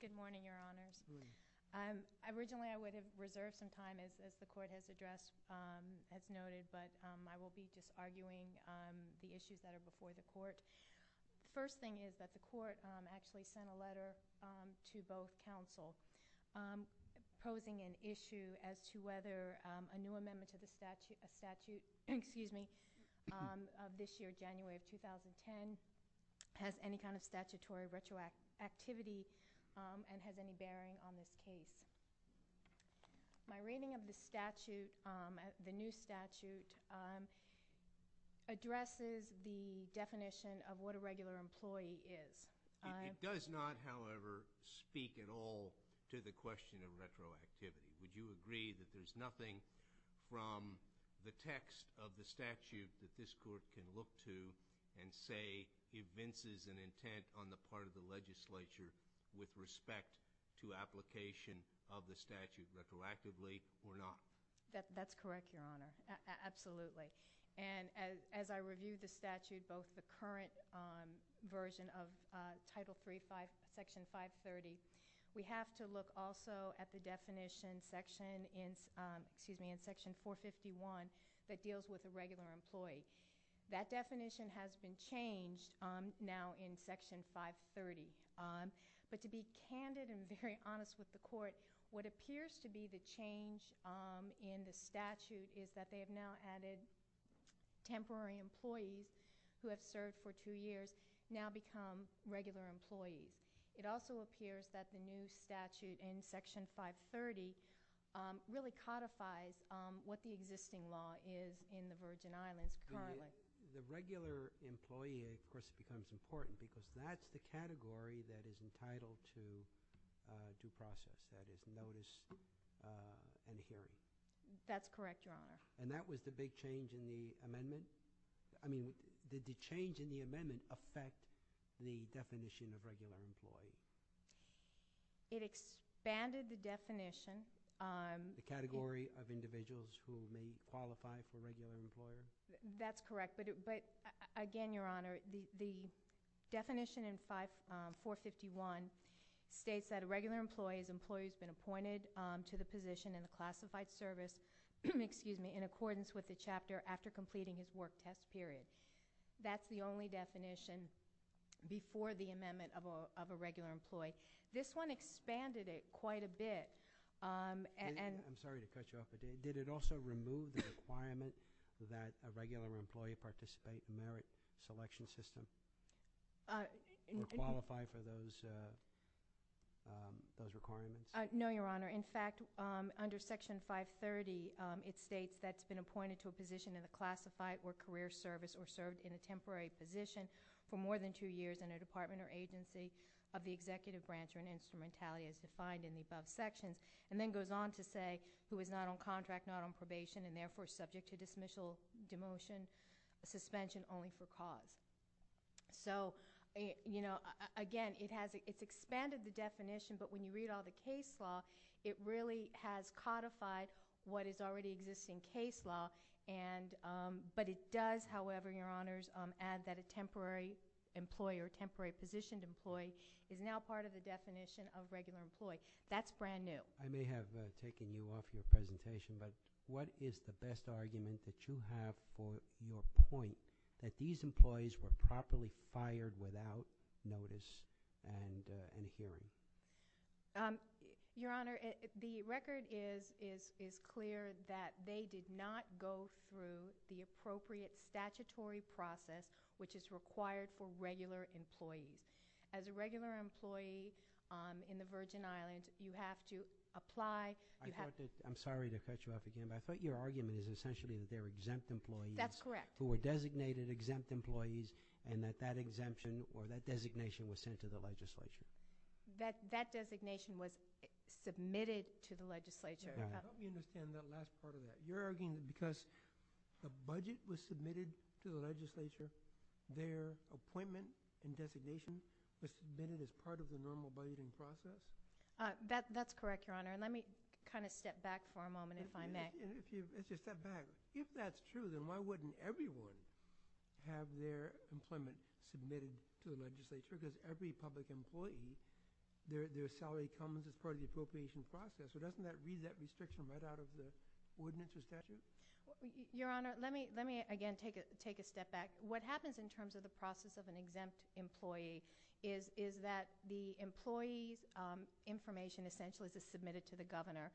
Good morning, Your Honors. Originally, I would have reserved some time as the Court has addressed, as noted, but I will be just arguing the issues that are before the Court. The first thing is that the Court actually sent a letter to both counsel posing an issue as to whether a new amendment to the statute of this year, January of 2010, has any kind of statutory retroactivity and has any bearing on this case. My reading of the statute, the new statute, addresses the definition of what a regular employee is. It does not, however, speak at all to the question of retroactivity. Would you agree that there's nothing from the text of the statute that this Court can look to and say evinces an intent on the part of the legislature with respect to application of the statute retroactively or not? That's correct, Your Honor. Absolutely. And as I review the statute, both the current version of Title III, Section 530, we have to look also at the definition in Section 451 that deals with the regular employee. That definition has been changed now in Section 530. But to be candid and very honest with the Court, what appears to be the change in the statute is that they have now added temporary employees who have served for two years now become regular employees. It also appears that the new statute in Section 530 really codifies what the existing law is in the Virgin Islands currently. The regular employee, of course, becomes important because that's the category that is entitled to due process, that is, notice and hearing. That's correct, Your Honor. And that was the big change in the amendment? I mean, did the change in the amendment affect the definition of regular employee? It expanded the definition. The category of individuals who may qualify for regular employer? That's correct. But again, Your Honor, the definition in 451 states that a regular employee's employee has been appointed to the position in the classified service in accordance with the chapter after completing his work test period. That's the only definition before the amendment of a regular employee. This one expanded it quite a bit. I'm sorry to cut you off, but did it also remove the requirement that a regular employee participate in the merit selection system or qualify for those requirements? No, Your Honor. In fact, under Section 530, it states that's been appointed to a position in the classified or career service or served in a temporary position for more than 2 years in a department or agency of the executive branch or an instrumentality as defined in the above sections, and then goes on to say who is not on contract, not on probation, and therefore subject to dismissal, demotion, suspension only for cause. So again, it's expanded the definition, but when you read all the case law, it really has codified what is already existing case law. But it does, however, Your Honors, add that a temporary employee or temporary positioned employee is now part of the definition of regular employee. That's brand new. I may have taken you off your presentation, but what is the best argument that you have for your point that these employees were properly fired without notice and hearing? Your Honor, the record is clear that they did not go through the appropriate statutory process which is required for regular employees. As a regular employee in the Virgin Islands, you have to apply. I'm sorry to cut you off again, but I thought your argument is essentially that they're exempt employees who were designated exempt employees and that that exemption or that designation was sent to the legislature. That designation was submitted to the legislature. I don't understand that last part of that. You're arguing because the budget was submitted to the legislature, their appointment and designation was submitted as part of the normal budgeting process? That's correct, Your Honor, and let me kind of step back for a moment if I may. If that's true, then why wouldn't everyone have their employment submitted to the legislature? Because every public employee, their salary comes as part of the appropriation process. Doesn't that read that restriction right out of the ordinance or statute? Your Honor, let me again take a step back. What happens in terms of the process of an exempt employee is that the employee's information essentially is submitted to the governor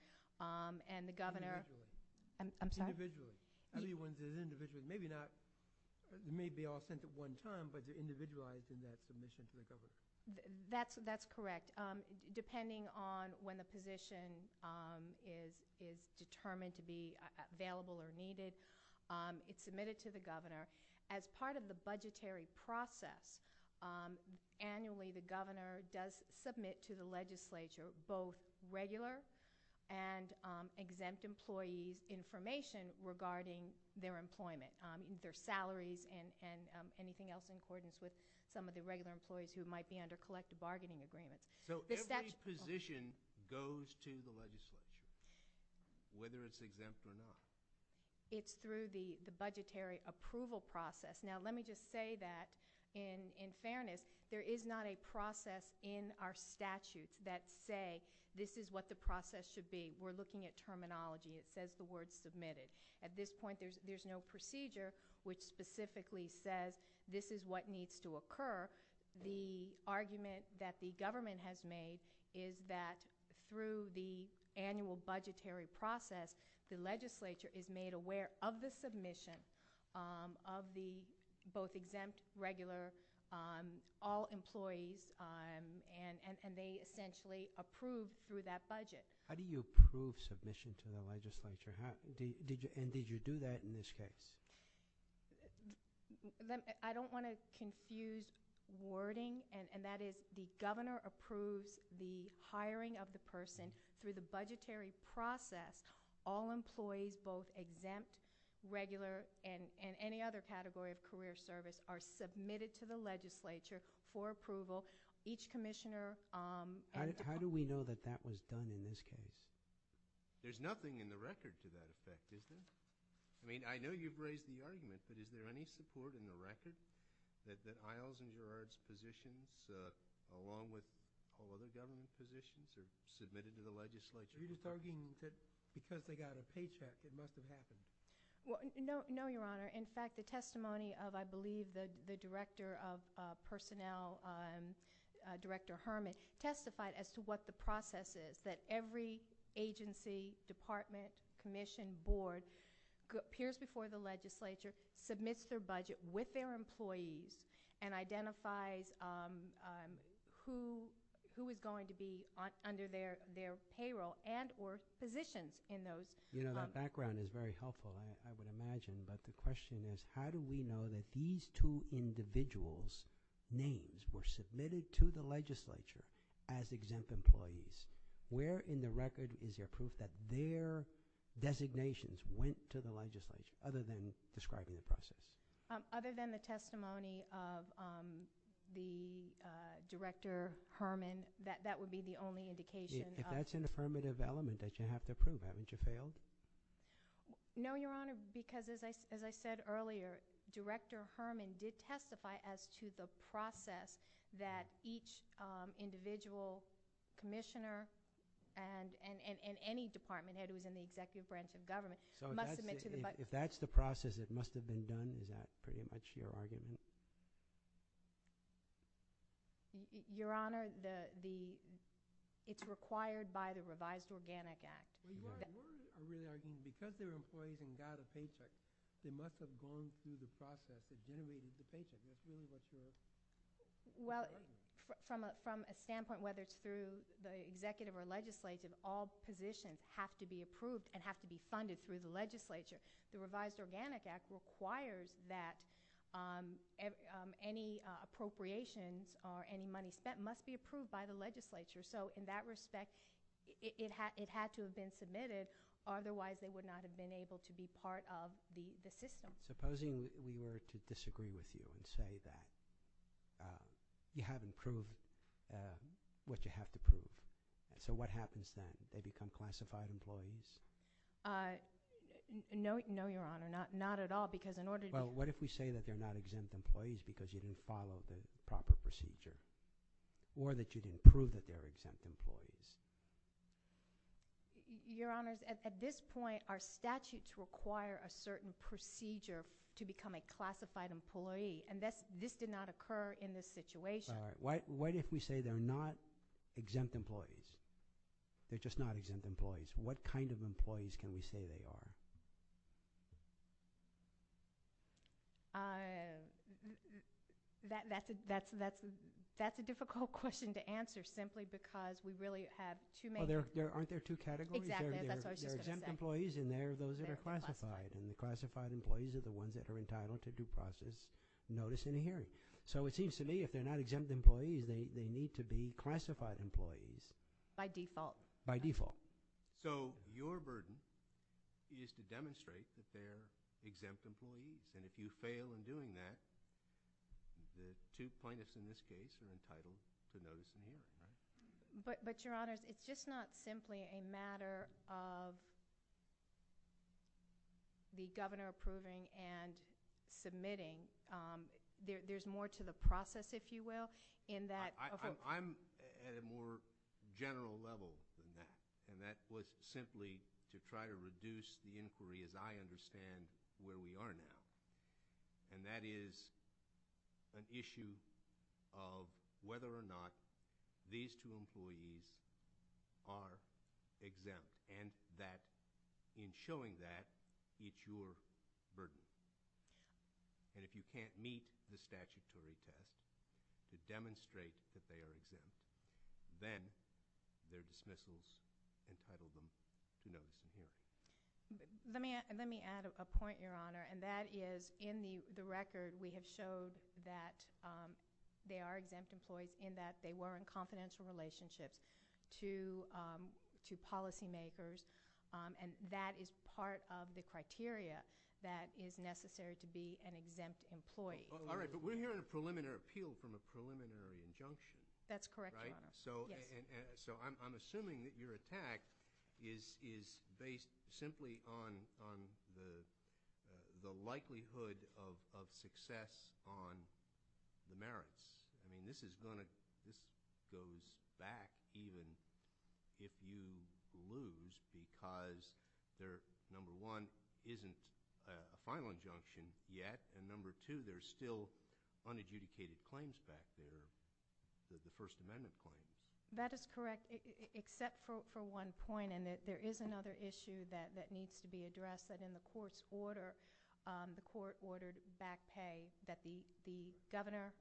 and the governor Individually. I'm sorry? Individually. Everyone's is individually. Maybe not, it may be all sent at one time, but they're individualized in that submission to the governor. That's correct. Depending on when the position is determined to be available or needed, it's submitted to the governor. As part of the budgetary process, annually the governor does submit to the legislature both regular and exempt employee's information regarding their employment, their salaries and anything else in accordance with some of the regular employees who might be under collective bargaining agreements. So every position goes to the legislature, whether it's exempt or not? It's through the budgetary approval process. Now let me just say that in fairness, there is not a process in our statutes that say this is what the process should be. We're looking at terminology. It says the word submitted. At this point, there's no procedure which specifically says this is what needs to occur. The argument that the government has made is that through the annual budgetary process, the legislature is made aware of the submission of the both exempt, regular, all employees, and they essentially approve through that budget. How do you approve submission to the legislature? And did you do that in this case? I don't want to confuse wording, and that is the governor approves the hiring of the person and through the budgetary process, all employees, both exempt, regular, and any other category of career service are submitted to the legislature for approval. Each commissioner… How do we know that that was done in this case? There's nothing in the record to that effect, is there? I mean, I know you've raised the argument, but is there any support in the record that Iles and Gerard's positions, along with all other government positions, are submitted to the legislature? Are you just arguing that because they got a paycheck, it must have happened? No, Your Honor. In fact, the testimony of, I believe, the Director of Personnel, Director Herman, testified as to what the process is, that every agency, department, commission, board, peers before the legislature, submits their budget with their employees and identifies who is going to be under their payroll and or positions in those. You know, that background is very helpful, I would imagine, but the question is how do we know that these two individuals' names were submitted to the legislature as exempt employees? Where in the record is there proof that their designations went to the legislature other than describing the process? Other than the testimony of the Director Herman, that would be the only indication. If that's an affirmative element that you have to prove, haven't you failed? No, Your Honor, because as I said earlier, Director Herman did testify as to the process that each individual commissioner and any department head who is in the executive branch of government must submit to the budget. So if that's the process that must have been done, is that pretty much your argument? Your Honor, it's required by the Revised Organic Act. Your Honor, my real argument is because they're employees and got a paycheck, they must have gone through the process of generating the paycheck. That's really what your argument is. Well, from a standpoint whether it's through the executive or legislative, all positions have to be approved and have to be funded through the legislature. The Revised Organic Act requires that any appropriations or any money spent must be approved by the legislature. So in that respect, it had to have been submitted, otherwise they would not have been able to be part of the system. Supposing we were to disagree with you and say that you haven't proved what you have to prove. So what happens then? Do they become classified employees? No, Your Honor, not at all, because in order to— Well, what if we say that they're not exempt employees because you didn't follow the proper procedure or that you didn't prove that they're exempt employees? Your Honor, at this point, our statutes require a certain procedure to become a classified employee, and this did not occur in this situation. What if we say they're not exempt employees? They're just not exempt employees. What kind of employees can we say they are? That's a difficult question to answer simply because we really have too many— Well, aren't there two categories? Exactly, that's what I was just going to say. There are exempt employees and there are those that are classified, and the classified employees are the ones that are entitled to due process notice in a hearing. So it seems to me if they're not exempt employees, they need to be classified employees. By default. By default. So your burden is to demonstrate that they're exempt employees, and if you fail in doing that, the two plaintiffs in this case are entitled to notice in the hearing. But, Your Honor, it's just not simply a matter of the governor approving and submitting. There's more to the process, if you will, in that— I'm at a more general level than that, and that was simply to try to reduce the inquiry as I understand where we are now. And that is an issue of whether or not these two employees are exempt, and that in showing that, it's your burden. And if you can't meet the statutory test to demonstrate that they are exempt, then their dismissal is entitled to notice in the hearing. Let me add a point, Your Honor, and that is in the record we have showed that they are exempt employees in that they were in confidential relationships to policymakers, and that is part of the criteria that is necessary to be an exempt employee. All right. But we're hearing a preliminary appeal from a preliminary injunction. That's correct, Your Honor. Right? Yes. So I'm assuming that your attack is based simply on the likelihood of success on the merits. I mean, this is going to—this goes back even if you lose, because there, number one, isn't a final injunction yet, and number two, there's still unadjudicated claims back there, the First Amendment claims. That is correct, except for one point, and there is another issue that needs to be addressed, that in the court's order, the court ordered back pay, that the governor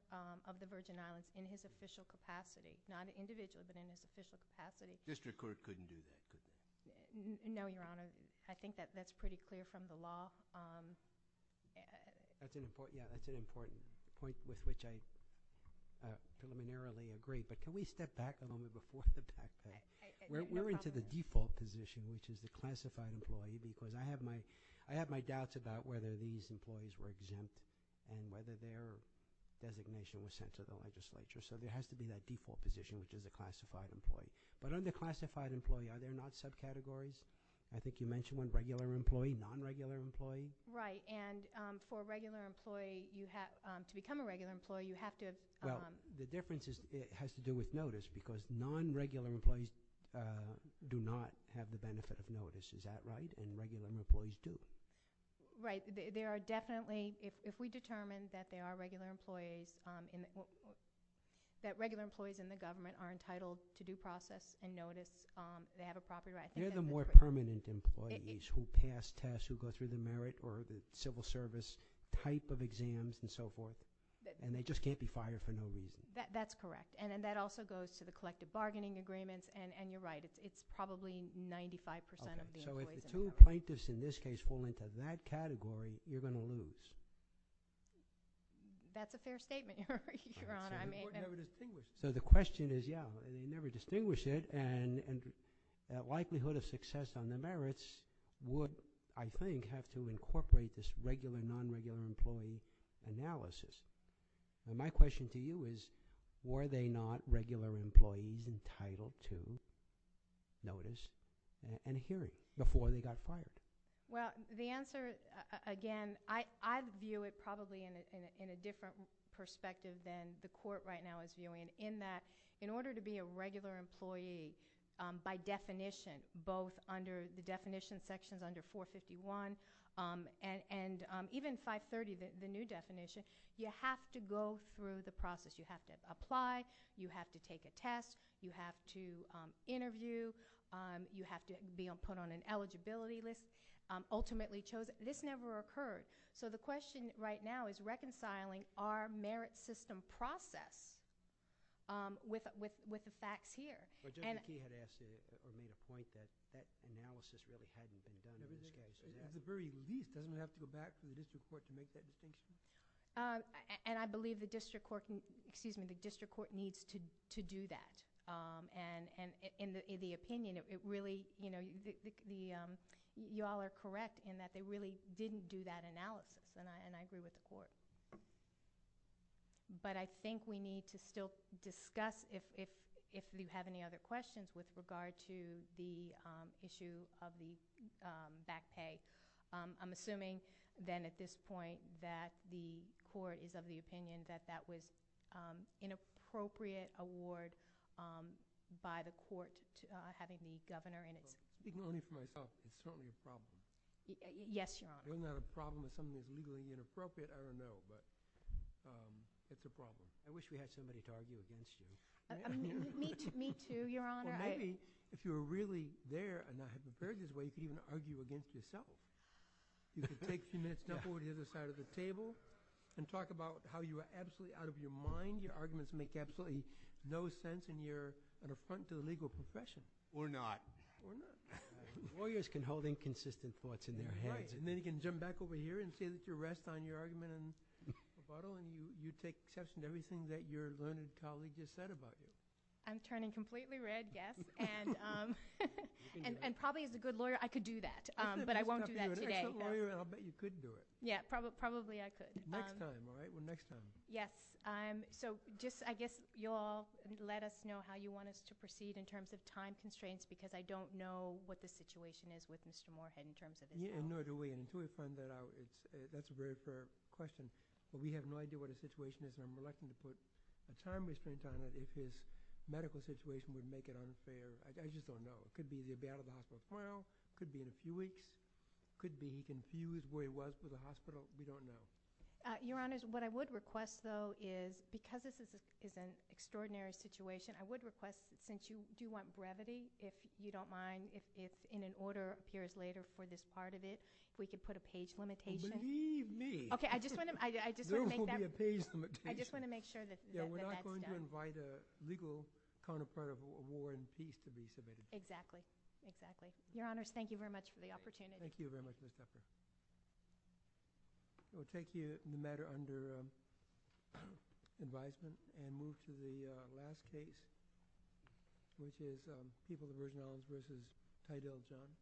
of the Virgin Islands in his official capacity, not individually, but in his official capacity— District court couldn't do that, could they? No, Your Honor. I think that that's pretty clear from the law. Yeah, that's an important point with which I preliminarily agree, but can we step back a moment before the back pay? We're into the default position, which is the classified employee, because I have my doubts about whether these employees were exempt and whether their designation was sent to the legislature. So there has to be that default position, which is the classified employee. But under classified employee, are there not subcategories? I think you mentioned one, regular employee, non-regular employee. Right, and for a regular employee, to become a regular employee, you have to have— Well, the difference has to do with notice, because non-regular employees do not have the benefit of notice. Is that right? And regular employees do. Right. There are definitely—if we determine that regular employees in the government are entitled to due process and notice, they have a property right. They're the more permanent employees who pass tests, who go through the merit or the civil service type of exams and so forth, and they just can't be fired for no reason. That's correct. And then that also goes to the collective bargaining agreements, and you're right. It's probably 95 percent of the employees in the government. So if the two plaintiffs in this case fall into that category, you're going to lose. That's a fair statement, Your Honor. So the court never distinguished it. So the question is, yeah, they never distinguished it, and the likelihood of success on the merits would, I think, have to incorporate this regular, non-regular employee analysis. And my question to you is, were they not regular employees entitled to notice and hearing before they got fired? Well, the answer, again, I view it probably in a different perspective than the court right now is viewing, in that in order to be a regular employee by definition, both under the definition sections under 451 and even 530, the new definition, you have to go through the process. You have to apply. You have to take a test. You have to interview. You have to be put on an eligibility list. Ultimately chosen. This never occurred. So the question right now is reconciling our merit system process with the facts here. But Judge McKee had asked earlier the point that that analysis, whether it hadn't been done in this case. At the very least, doesn't it have to go back to the district court to make that decision? And I believe the district court needs to do that. And in the opinion, it really, you know, you all are correct in that they really didn't do that analysis, and I agree with the court. But I think we need to still discuss, if you have any other questions with regard to the issue of the back pay, I'm assuming then at this point that the court is of the opinion that that was an inappropriate award by the court having the governor in it. Ignoring for myself, it's totally a problem. Yes, Your Honor. It's not a problem. If something is legally inappropriate, I don't know. But it's a problem. I wish we had somebody to argue against you. Me too, Your Honor. Well, maybe if you were really there and not prepared in this way, you could even argue against yourself. You could take a few minutes, jump over to the other side of the table, and talk about how you are absolutely out of your mind. Your arguments make absolutely no sense, and you're an affront to the legal profession. We're not. We're not. Lawyers can hold inconsistent thoughts in their heads. Right. And then you can jump back over here and say that you rest on your argument and rebuttal, and you take exception to everything that your learned colleague just said about you. I'm turning completely red, Geoff, and probably as a good lawyer I could do that, but I won't do that today. As a good lawyer, I'll bet you could do it. Yeah, probably I could. Next time, all right? Well, next time. Yes. So I guess you'll all let us know how you want us to proceed in terms of time constraints, because I don't know what the situation is with Mr. Moorhead in terms of his case. Nor do we. Until we find that out, that's a very fair question. But we have no idea what his situation is, and I'm electing to put a time restraint on it if his medical situation would make it unfair. I just don't know. It could be he'll be out of the hospital tomorrow. It could be in a few weeks. It could be he's confused where he was for the hospital. We don't know. Your Honors, what I would request, though, is because this is an extraordinary situation, I would request that since you do want brevity, if you don't mind, if in an order appears later for this part of it, if we could put a page limitation. Believe me. Okay. I just want to make that... There will be a page limitation. I just want to make sure that that's done. We're not going to invite a legal counterpart of war and peace to be submitted. Exactly. Exactly. Your Honors, thank you very much for the opportunity. Thank you very much, Ms. Shepard. We'll take the matter under advisement and move to the last case, which is People of Virgin Islands v. Tydell Jones.